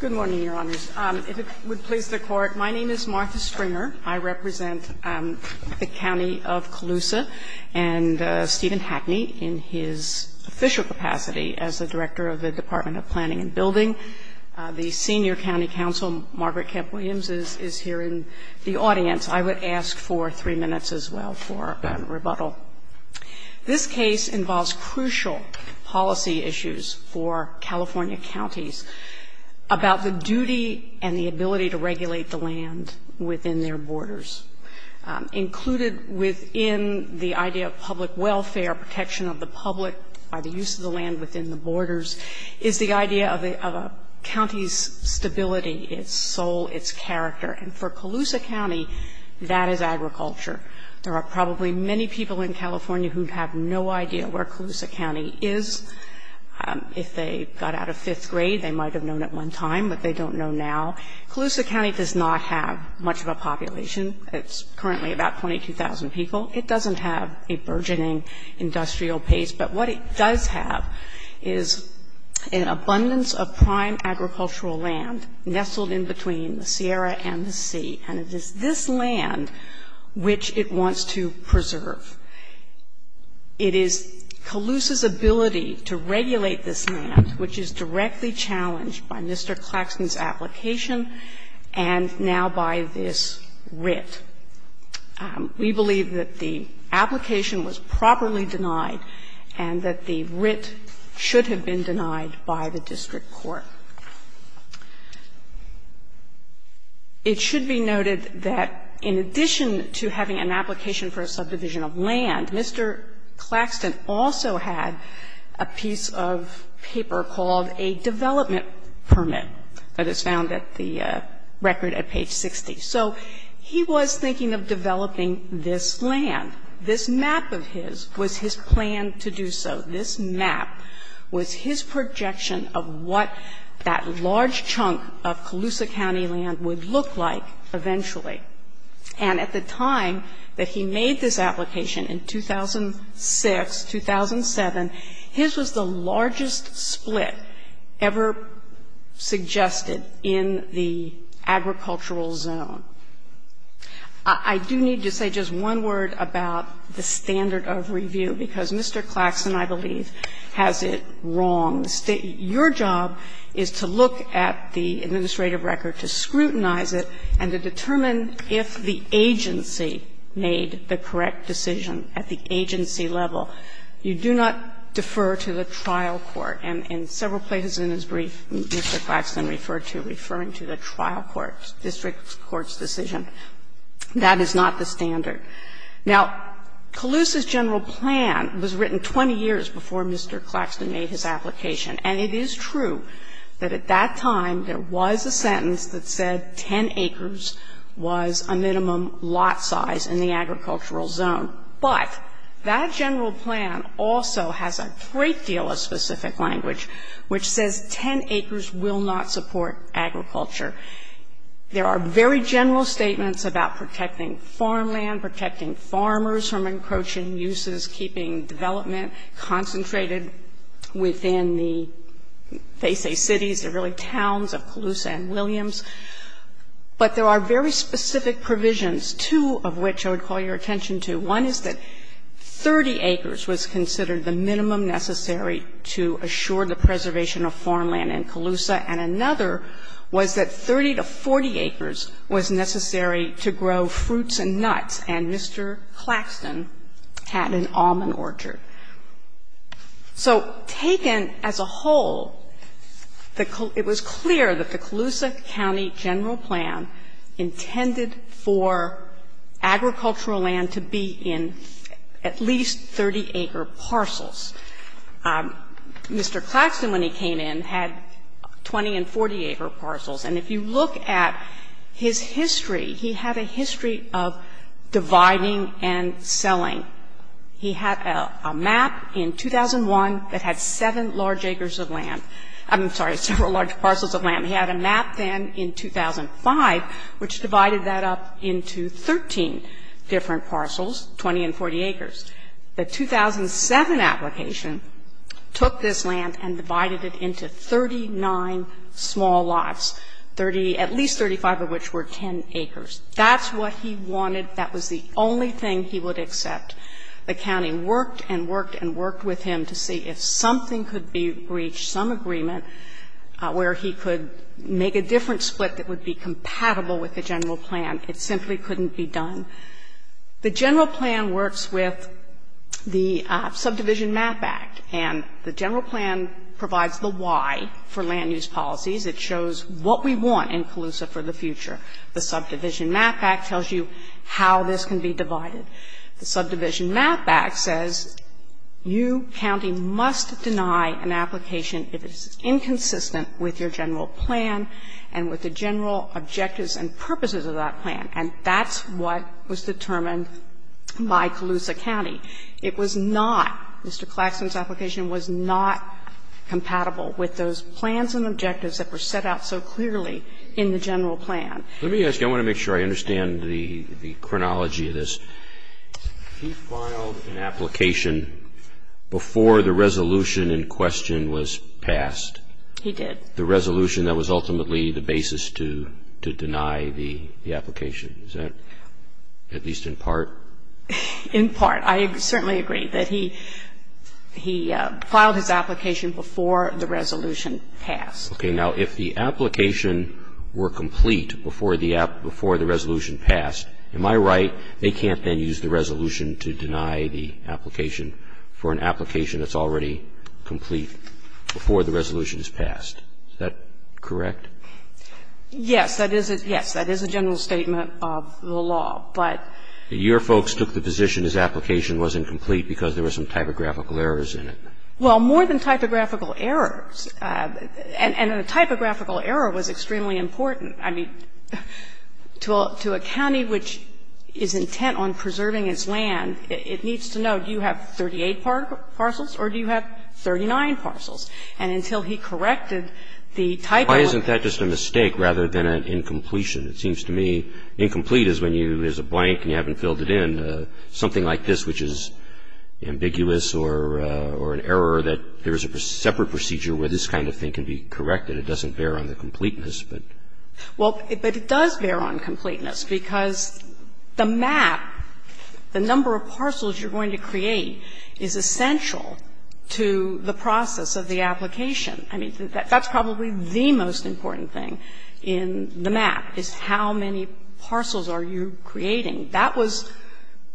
Good morning, Your Honors. If it would please the Court, my name is Martha Stringer. I represent the County of Colusa and Stephen Hackney in his official capacity as the Director of the Department of Planning and Building. The Senior County Counsel, Margaret Kemp-Williams, is here in the audience. I would ask for three minutes as well for rebuttal. This case involves crucial policy issues for California counties about the duty and the ability to regulate the land within their borders. Included within the idea of public welfare, protection of the public by the use of the land within the borders, is the idea of a county's stability, its soul, its character. And for Colusa County, that is agriculture. There are probably many people in California who have no idea where Colusa County is. If they got out of fifth grade, they might have known at one time, but they don't know now. Colusa County does not have much of a population. It's currently about 22,000 people. It doesn't have a burgeoning industrial pace. But what it does have is an abundance of prime agricultural land nestled in between the Sierra and the sea. And it is this land which it wants to preserve. It is Colusa County's ability to regulate this land, which is directly challenged by Mr. Claxton's application and now by this writ. We believe that the application was properly denied and that the writ should have been denied by the district court. It should be noted that in addition to having an application for a subdivision of land, Mr. Claxton also had a piece of paper called a development permit that is found at the record at page 60. So he was thinking of developing this land. This map of his was his plan to do so. This map was his projection of what that large chunk of Colusa County land would look like eventually. And at the time that he made this application, in 2006, 2007, his was the largest split ever suggested in the agricultural zone. I do need to say just one word about the standard of review, because Mr. Claxton, I believe, has it wrong. Your job is to look at the administrative record, to scrutinize it, and to determine if the agency made the correct decision at the agency level. You do not defer to the trial court. And in several places in his brief, Mr. Claxton referred to referring to the trial court, district court's decision. That is not the standard. Now, Colusa's general plan was written 20 years before Mr. Claxton made his application. And it is true that at that time there was a sentence that said 10 acres was a minimum lot size in the agricultural zone. But that general plan also has a great deal of specific language which says 10 acres will not support agriculture. There are very general statements about protecting farmland, protecting farmers from encroaching uses, keeping development concentrated within the, they say, cities, the really towns of Colusa and Williams. But there are very specific provisions, two of which I would call your attention to. One is that 30 acres was considered the minimum necessary to assure the preservation of farmland in Colusa, and another was that it was necessary to grow fruits and nuts, and Mr. Claxton had an almond orchard. So taken as a whole, it was clear that the Colusa County general plan intended for agricultural land to be in at least 30-acre parcels. Mr. Claxton, when he came in, had 20- and 40-acre parcels. And if you look at his history, he had a lot of parcels of land. He had a history of dividing and selling. He had a map in 2001 that had 7 large acres of land. I'm sorry, several large parcels of land. He had a map then in 2005 which divided that up into 13 different parcels, 20- and 40-acres. The 2007 application took this land and divided it into 39 small lots, 30, at least 35 of which were 10 acres. That's what he wanted. That was the only thing he would accept. The county worked and worked and worked with him to see if something could be breached, some agreement where he could make a different split that would be compatible with the general plan. It simply couldn't be done. The general plan works with the Subdivision Map Act, and the general plan provides the why for land use policies. It shows what we want in Colusa for the future. The Subdivision Map Act tells you how this can be divided. The Subdivision Map Act says you, county, must deny an application if it's inconsistent with your general plan and with the general objectives and purposes of that plan. And that's what was determined by Colusa County. It was not, Mr. Claxton's application was not compatible with those plans and objectives that were set out so clearly in the general plan. Roberts. Let me ask you, I want to make sure I understand the chronology of this. He filed an application before the resolution in question was passed. He did. The resolution that was ultimately the basis to deny the application. Is that at least in part? In part. I certainly agree that he, he filed his application before the resolution passed. Okay. Now, if the application were complete before the resolution passed, am I right, they can't then use the resolution to deny the application for an application that's already complete before the resolution is passed. Is that correct? Yes. That is a general statement of the law. But Your folks took the position his application was incomplete because there were some typographical errors in it. Well, more than typographical errors. And a typographical error was extremely important. I mean, to a county which is intent on preserving its land, it needs to know do you have 38 parcels or do you have 39 parcels. And until he corrected the typo. Why isn't that just a mistake rather than an incompletion? It seems to me incomplete is when you, there's a blank and you haven't filled it in. Something like this which is ambiguous or an error that there is a separate procedure where this kind of thing can be corrected. It doesn't bear on the completeness, but. Well, but it does bear on completeness because the map, the number of parcels you're going to create, is essential to the process of the application. I mean, that's probably the most important thing in the map is how many parcels are you creating. That was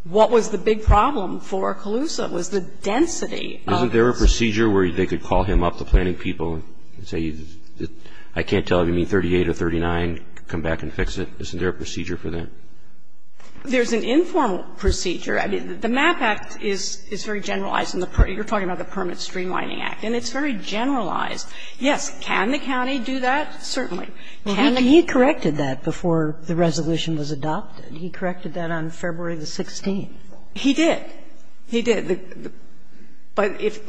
what was the big problem for Calusa, was the density of this. Isn't there a procedure where they could call him up, the planning people, and say I can't tell if you need 38 or 39, come back and fix it. Isn't there a procedure for that? There's an informal procedure. I mean, the MAP Act is very generalized. You're talking about the Permit Streamlining Act. And it's very generalized. Yes, can the county do that? Certainly. Well, he corrected that before the resolution was adopted. He corrected that on February the 16th. He did. He did. But if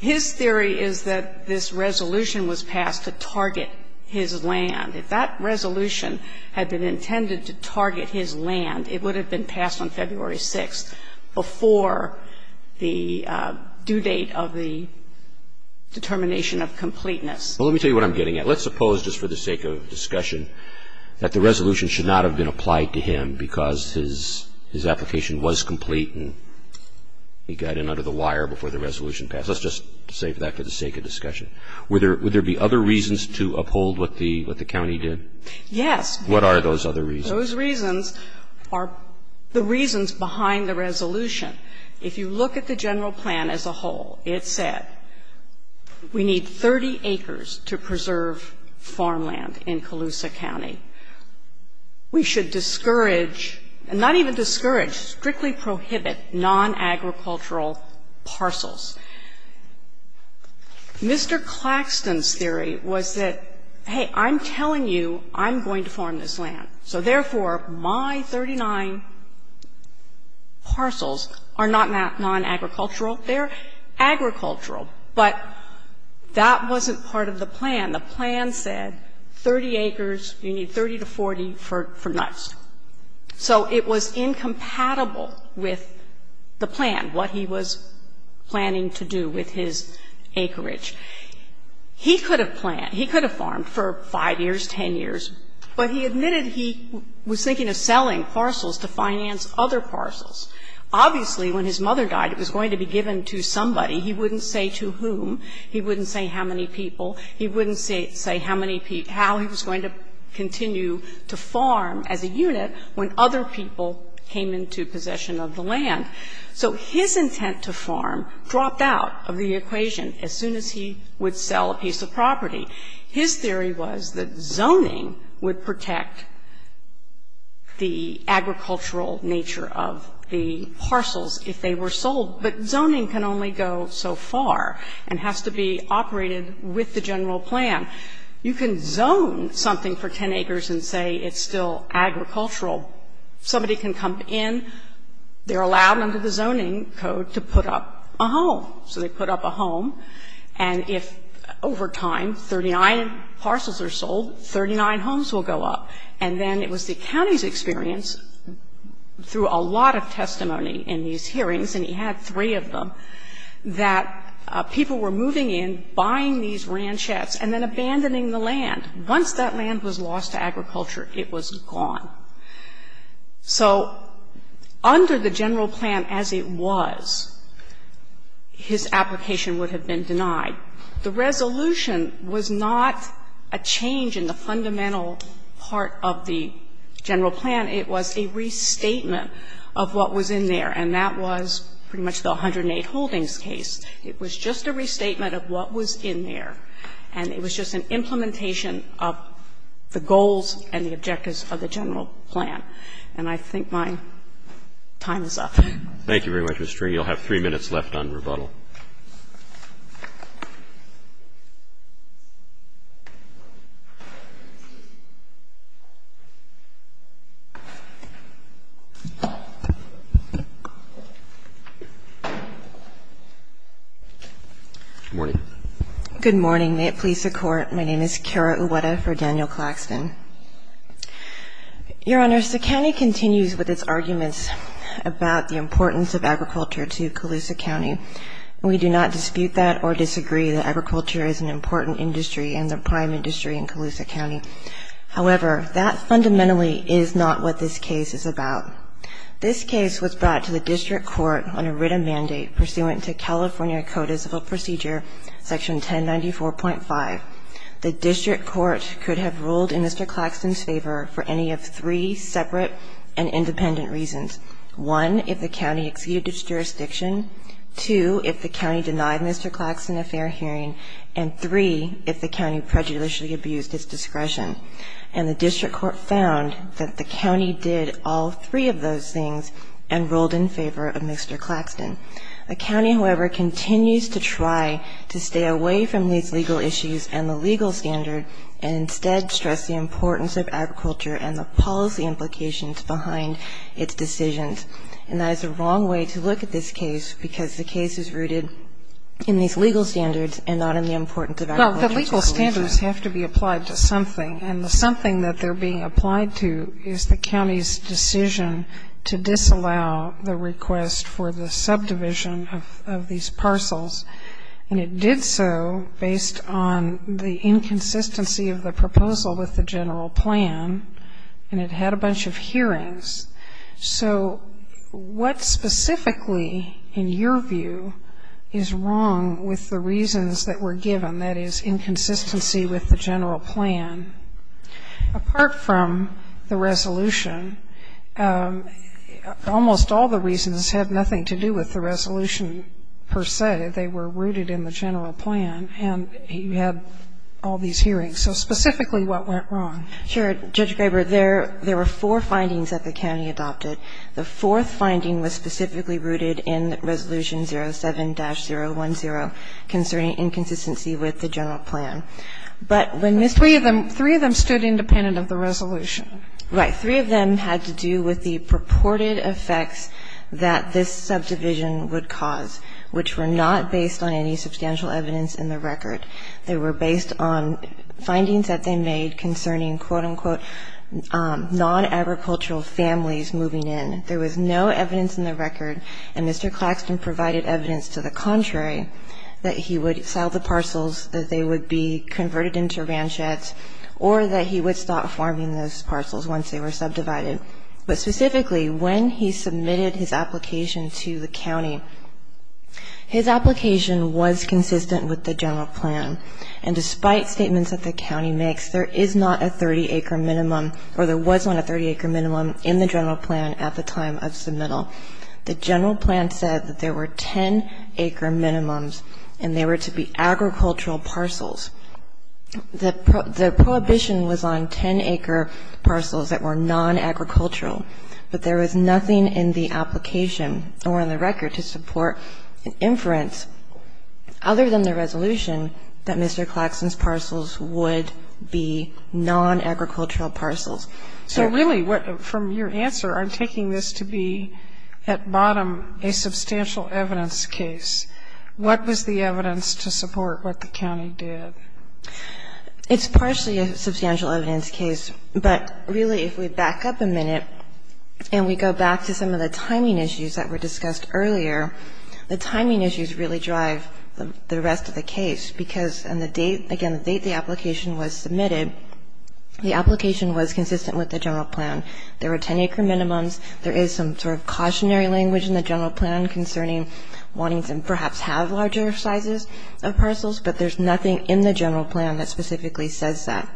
his theory is that this resolution was passed to target his land, if that resolution had been intended to target his land, it would have been passed on February 6th before the due date of the determination of completeness. Well, let me tell you what I'm getting at. Let's suppose just for the sake of discussion that the resolution should not have been applied to him because his application was complete and he got in under the wire before the resolution passed. Let's just say that for the sake of discussion. Would there be other reasons to uphold what the county did? Yes. What are those other reasons? Those reasons are the reasons behind the resolution. If you look at the general plan as a whole, it said we need 30 acres to preserve farmland in Colusa County. We should discourage, not even discourage, strictly prohibit nonagricultural parcels. Mr. Claxton's theory was that, hey, I'm telling you I'm going to farm this land, so therefore, my 39 parcels are not nonagricultural. They're agricultural. But that wasn't part of the plan. The plan said 30 acres, you need 30 to 40 for nuts. So it was incompatible with the plan, what he was planning to do with his acreage. He could have planned, he could have farmed for 5 years, 10 years, but he admitted he was thinking of selling parcels to finance other parcels. Obviously, when his mother died, it was going to be given to somebody. He wouldn't say to whom. He wouldn't say how many people. He wouldn't say how many people he was going to continue to farm as a unit when other people came into possession of the land. So his intent to farm dropped out of the equation as soon as he would sell a piece of property. His theory was that zoning would protect the agricultural nature of the parcels if they were sold, but zoning can only go so far and has to be operated with the general plan. You can zone something for 10 acres and say it's still agricultural. Somebody can come in, they're allowed under the zoning code to put up a home. So they put up a home, and if over time 39 parcels are sold, 39 homes will go up. And then it was the county's experience, the county's experience through a lot of testimony in these hearings, and he had three of them, that people were moving in, buying these ranchettes, and then abandoning the land. Once that land was lost to agriculture, it was gone. So under the general plan as it was, his application would have been denied. The resolution was not a change in the fundamental part of the general plan. It was a restatement of what was in there, and that was pretty much the 108 Holdings case. It was just a restatement of what was in there, and it was just an implementation of the goals and the objectives of the general plan. And I think my time is up. Roberts. Thank you very much, Mr. String. You'll have three minutes left on rebuttal. Good morning. May it please the Court. My name is Kara Uweta for Daniel Claxton. Your Honors, the county continues with its arguments about the importance of agriculture to Colusa County. We do not dispute that or disagree that agriculture is an important industry and the prime industry in Colusa County. However, that fundamentally is not what this case is about. This case was brought to the District Court on a written mandate pursuant to California Code of Civil Procedure, Section 1094.5. The District Court could have ruled in Mr. Claxton's favor for any of three separate and independent reasons. One, if the county exceeded its jurisdiction. Two, if the county denied Mr. Claxton a fair hearing. And three, if the county prejudicially abused its discretion. And the District Court found that the county did all three of those things and ruled in favor of Mr. Claxton. The county, however, continues to try to stay away from these legal issues and the legal standard and instead stress the importance of agriculture and the policy implications behind its decisions. And that is the wrong way to look at this case, because the case is rooted in these legal standards and not in the importance of agriculture to Colusa. Well, the legal standards have to be applied to something. And the something that they're being applied to is the county's decision to disallow the request for the subdivision of these parcels. And it did so based on the inconsistency of the proposal with the general plan, and it had a bunch of hearings. So what specifically, in your view, is wrong with the reasons that were given, that is, inconsistency with the general plan, apart from the resolution? Almost all the reasons have nothing to do with the resolution per se. They were rooted in the general plan, and you had all these hearings. So specifically what went wrong? Sure. Judge Graber, there were four findings that the county adopted. The fourth finding was specifically rooted in Resolution 07-010 concerning inconsistency with the general plan. But when Ms. Graber said that the subdivision was not based on any substantial evidence in the record, they were based on findings that they made concerning, quote-unquote, non-agricultural families moving in. There was no evidence in the record, and Mr. Claxton provided evidence to the contrary, that he would sell the parcels, that they would be converted into ranchettes, or that he would stop farming those parcels once they were subdivided. But specifically, when he submitted his application to the county, his application was consistent with the general plan. And there is not a 30-acre minimum, or there was not a 30-acre minimum in the general plan at the time of submittal. The general plan said that there were 10-acre minimums, and they were to be agricultural parcels. The prohibition was on 10-acre parcels that were non-agricultural, but there was nothing in the application or in the record to support an inference, other than the resolution, that Mr. Claxton's parcels would be non-agricultural parcels. So really, from your answer, I'm taking this to be, at bottom, a substantial evidence case. What was the evidence to support what the county did? It's partially a substantial evidence case, but really, if we back up a minute, and we go back to some of the timing issues that were discussed earlier, the timing issues really drive the rest of the case, because on the date, again, the date the application was submitted, the application was consistent with the general plan. There were 10-acre minimums. There is some sort of cautionary language in the general plan concerning wanting to perhaps have larger sizes of parcels, but there's nothing in the general plan that specifically says that.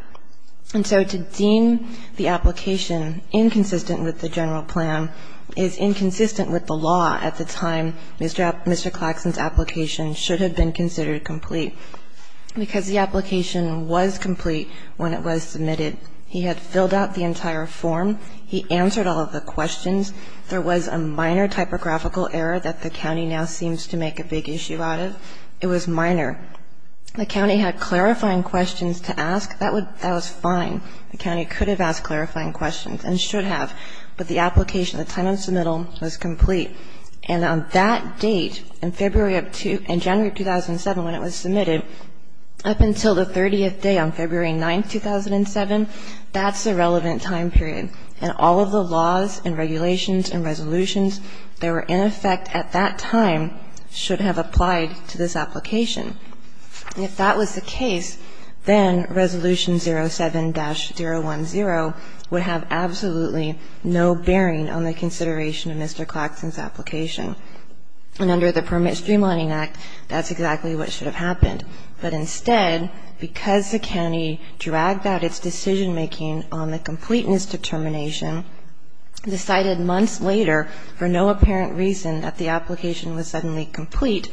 And so to deem the application inconsistent with the general plan is inconsistent with the law at the time Mr. Claxton's application should have been considered complete, because the application was complete when it was submitted. He had filled out the entire form. He answered all of the questions. There was a minor typographical error that the county now seems to make a big issue out of. It was minor. The county had clarifying questions to ask. That was fine. The county could have asked clarifying questions, and should have. But the application, the time of submittal was complete. And on that date, in February of 2007, when it was submitted, up until the 30th day on February 9th, 2007, that's the relevant time period. And all of the laws and regulations and resolutions that were in effect at that time should have applied to this application. And if that was the case, then Resolution 07-010 would have absolutely no bearing on the consideration of Mr. Claxton's application. And under the Permit Streamlining Act, that's exactly what should have happened. But instead, because the county dragged out its decision making on the completeness determination, decided months later for no apparent reason that the application was suddenly complete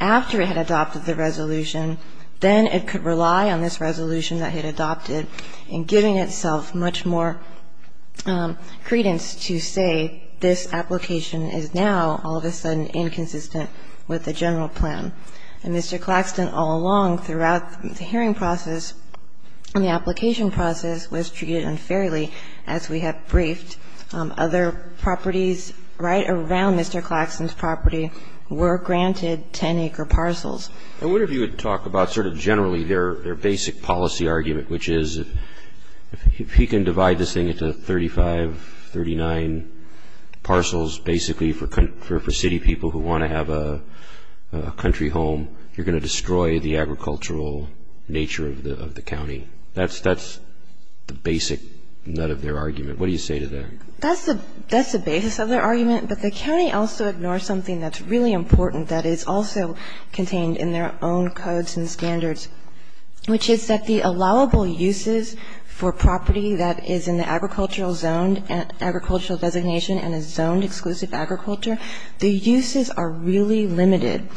after it had adopted the resolution, then it could rely on this resolution that it had adopted in giving itself much more credence to say this application is now all of a sudden inconsistent with the general plan. And Mr. Claxton all along throughout the hearing process and the application process was treated unfairly as we have briefed. Other properties right around Mr. Claxton's property were granted 10-acre parcels. I wonder if you would talk about sort of generally their basic policy argument, which is if he can divide this thing into 35, 39 parcels basically for city people who want to have a country home, you're going to destroy the agricultural nature of the county. That's the basic nut of their argument. What do you say to that? That's the basis of their argument. But the county also ignores something that's really important that is also contained in their own codes and standards, which is that the allowable uses for property that is in the agricultural zone, agricultural designation and is zoned exclusive agriculture, the uses are really limited.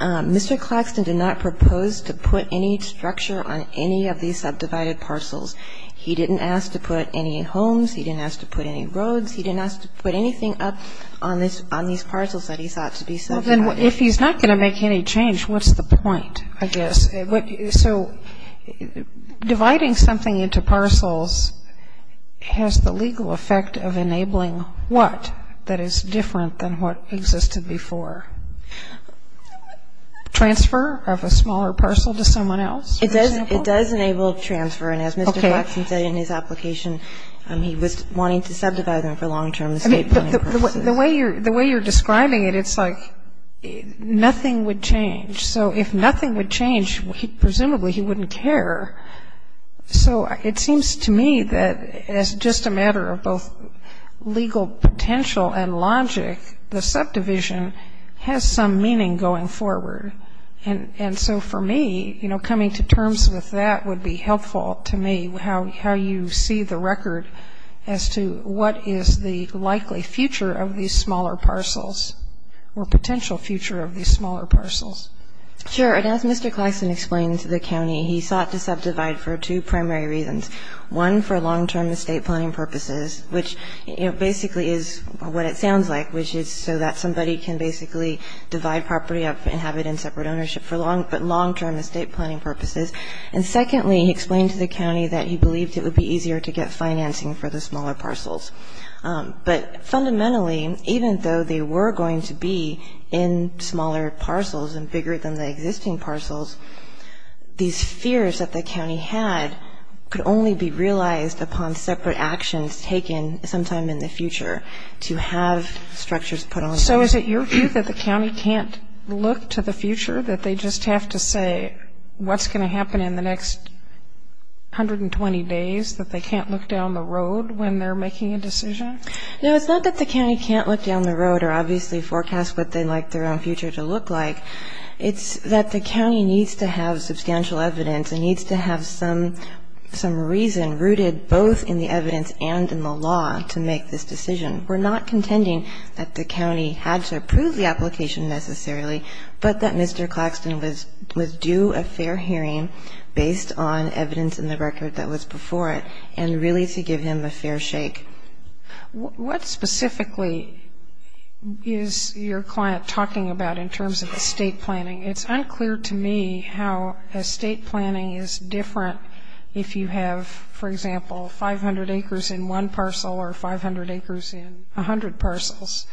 Mr. Claxton did not propose to put any structure on any of these subdivided parcels. He didn't ask to put any homes. He didn't ask to put any roads. He didn't ask to put anything up on these parcels that he thought to be subdivided. Well, then if he's not going to make any change, what's the point, I guess? So dividing something into parcels has the legal effect of enabling what that is different than what existed before? Transfer of a smaller parcel to someone else, for example? It does enable transfer. And as Mr. Claxton said in his application, he was wanting to subdivide them for long-term estate planning purposes. The way you're describing it, it's like nothing would change. So if nothing would change, presumably he wouldn't care. So it seems to me that as just a matter of both legal potential and logic, the subdivision has some meaning going forward. And so for me, you know, coming to terms with that would be helpful to me, how you see the record as to what is the likely future of these smaller parcels or potential future of these smaller parcels. Sure. And as Mr. Claxton explained to the county, he sought to subdivide for two primary reasons. One, for long-term estate planning purposes, which, you know, basically is what it sounds like, which is so that somebody can basically divide property up and have it in separate ownership for long-term estate planning purposes. And secondly, he explained to the county that he believed it would be easier to get financing for the smaller parcels. But fundamentally, even though they were going to be in smaller parcels and bigger than the could only be realized upon separate actions taken sometime in the future to have structures put on them. So is it your view that the county can't look to the future, that they just have to say what's going to happen in the next 120 days, that they can't look down the road when they're making a decision? No, it's not that the county can't look down the road or obviously forecast what they'd like their own future to look like. It's that the county needs to have substantial evidence and needs to have some reason rooted both in the evidence and in the law to make this decision. We're not contending that the county had to approve the application necessarily, but that Mr. Claxton was due a fair hearing based on evidence in the record that was before it and really to give him a fair shake. What specifically is your client talking about in terms of estate planning? It's unclear to me how estate planning is different if you have, for example, 500 acres in one parcel or 500 acres in 100 parcels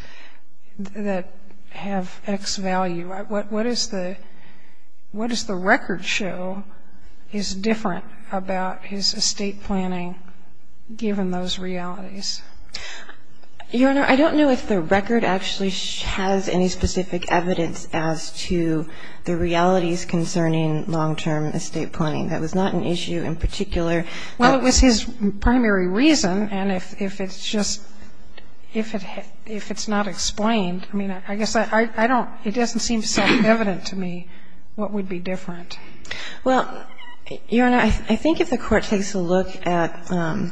that have X value. What does the record show is different about his estate planning given those realities? Your Honor, I don't know if the record actually has any specific evidence as to the reality concerning long-term estate planning. That was not an issue in particular. Well, it was his primary reason, and if it's just – if it's not explained, I mean, I guess I don't – it doesn't seem self-evident to me what would be different. Well, Your Honor, I think if the Court takes a look at the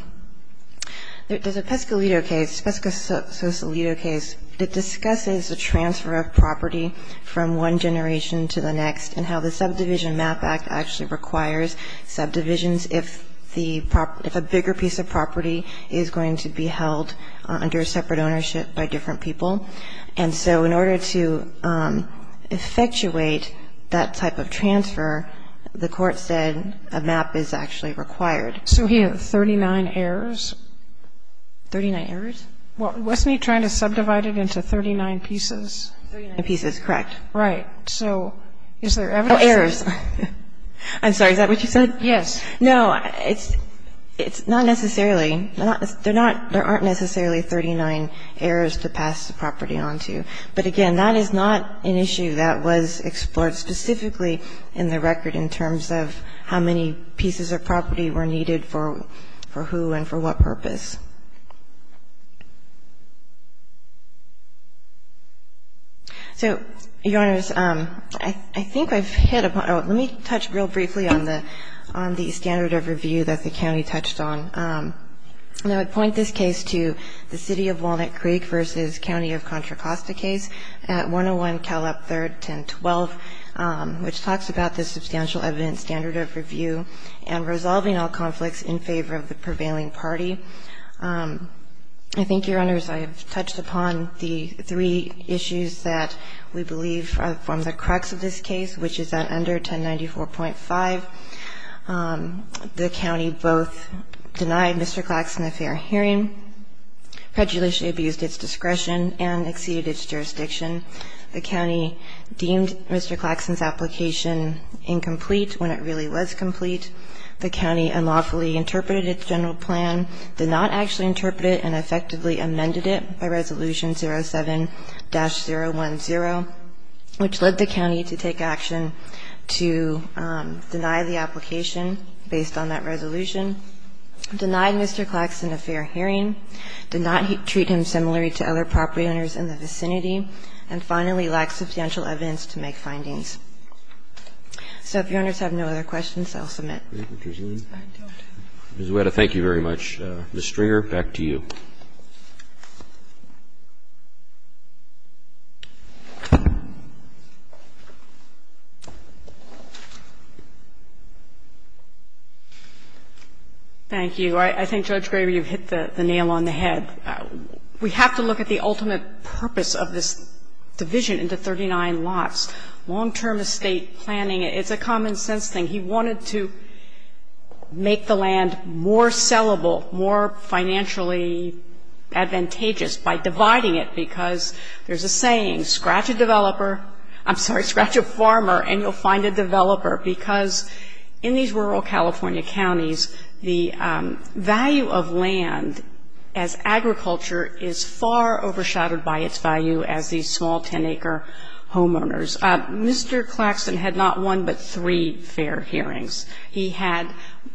Pescalito case, the Pesca-Sosalito case, it discusses the transfer of property from one generation to the next and how the Subdivision Map Act actually requires subdivisions if the – if a bigger piece of property is going to be held under a separate ownership by different people. And so in order to effectuate that type of transfer, the Court said a map is actually required. So he had 39 heirs – 39 heirs? Wasn't he trying to subdivide it into 39 pieces? 39 pieces, correct. Right. So is there evidence? Oh, heirs. I'm sorry, is that what you said? Yes. No, it's – it's not necessarily – they're not – there aren't necessarily 39 heirs to pass the property on to. But again, that is not an issue that was explored specifically in the record in terms of how many pieces of property were needed for who and for what purpose. So, Your Honors, I think I've hit upon – let me touch real briefly on the – on the standard of review that the county touched on. I would point this case to the City of Walnut Creek v. County of Contra Costa case at 101 Cal. Up 3rd, 1012, which talks about the substantial evidence standard of review and resolving all conflicts in favor of the prevailing party. I think, Your Honors, I have touched upon the three issues that we believe form the crux of this case, which is that under 1094.5, the county both denied Mr. Claxon a fair hearing, prejudicially abused its discretion, and exceeded its jurisdiction. The county deemed Mr. Claxon's application incomplete when it really was complete. The county unlawfully interpreted its general plan, did not actually interpret it and effectively amended it by Resolution 07-010, which led the county to take action to deny the application based on that resolution, denied Mr. Claxon a fair hearing, did not treat him similarly to other property owners in the vicinity, and finally lacked substantial evidence to make findings. So if Your Honors have no other questions, I'll submit. Thank you. Ms. Guetta, thank you very much. Ms. Stringer, back to you. Thank you. I think, Judge Graber, you've hit the nail on the head. We have to look at the ultimate purpose of this division into 39 lots. Long-term estate planning, it's a common-sense thing. He wanted to make the land more sellable, more financially advantageous by dividing it, because there's a saying, scratch a developer — I'm sorry, scratch a farmer and you'll find a developer, because in these rural California counties, the value of land as agriculture is far overshadowed by its value as these small 10-acre homeowners. Mr. Claxon had not one but three fair hearings. He had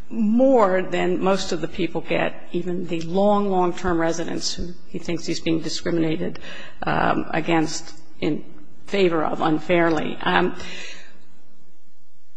more than most of the people get, even the long, long-term residents who he thinks he's being discriminated against in favor of unfairly.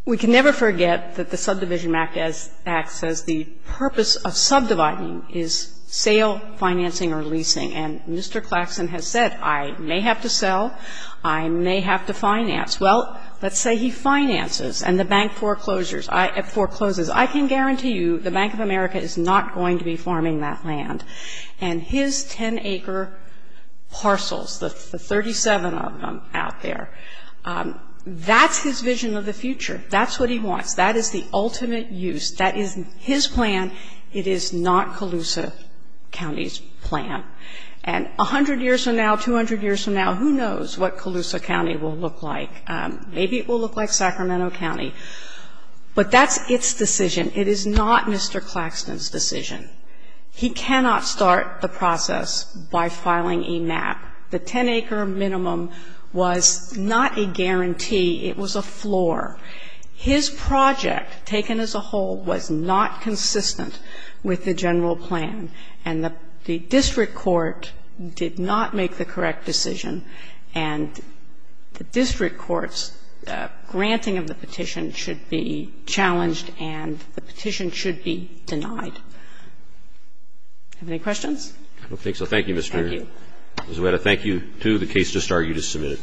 We can never forget that the Subdivision Act acts as the purpose of subdividing is sale, financing or leasing. And Mr. Claxon has said, I may have to sell, I may have to finance. Well, let's say he finances and the bank forecloses. I can guarantee you the Bank of America is not going to be farming that land. And his 10-acre parcels, the 37 of them out there, that's his vision of the future. That's what he wants. That is the ultimate use. That is his plan. It is not Colusa County's plan. And 100 years from now, 200 years from now, who knows what Colusa County will look like. Maybe it will look like Sacramento County. But that's its decision. It is not Mr. Claxon's decision. He cannot start the process by filing a MAP. The 10-acre minimum was not a guarantee. It was a floor. His project, taken as a whole, was not consistent with the general plan. And the district court did not make the correct decision. And the district court's granting of the petition should be challenged and the petition should be denied. Any questions? I don't think so. Thank you, Mr. Zuetta. Thank you. Thank you, too. The case just argued is submitted.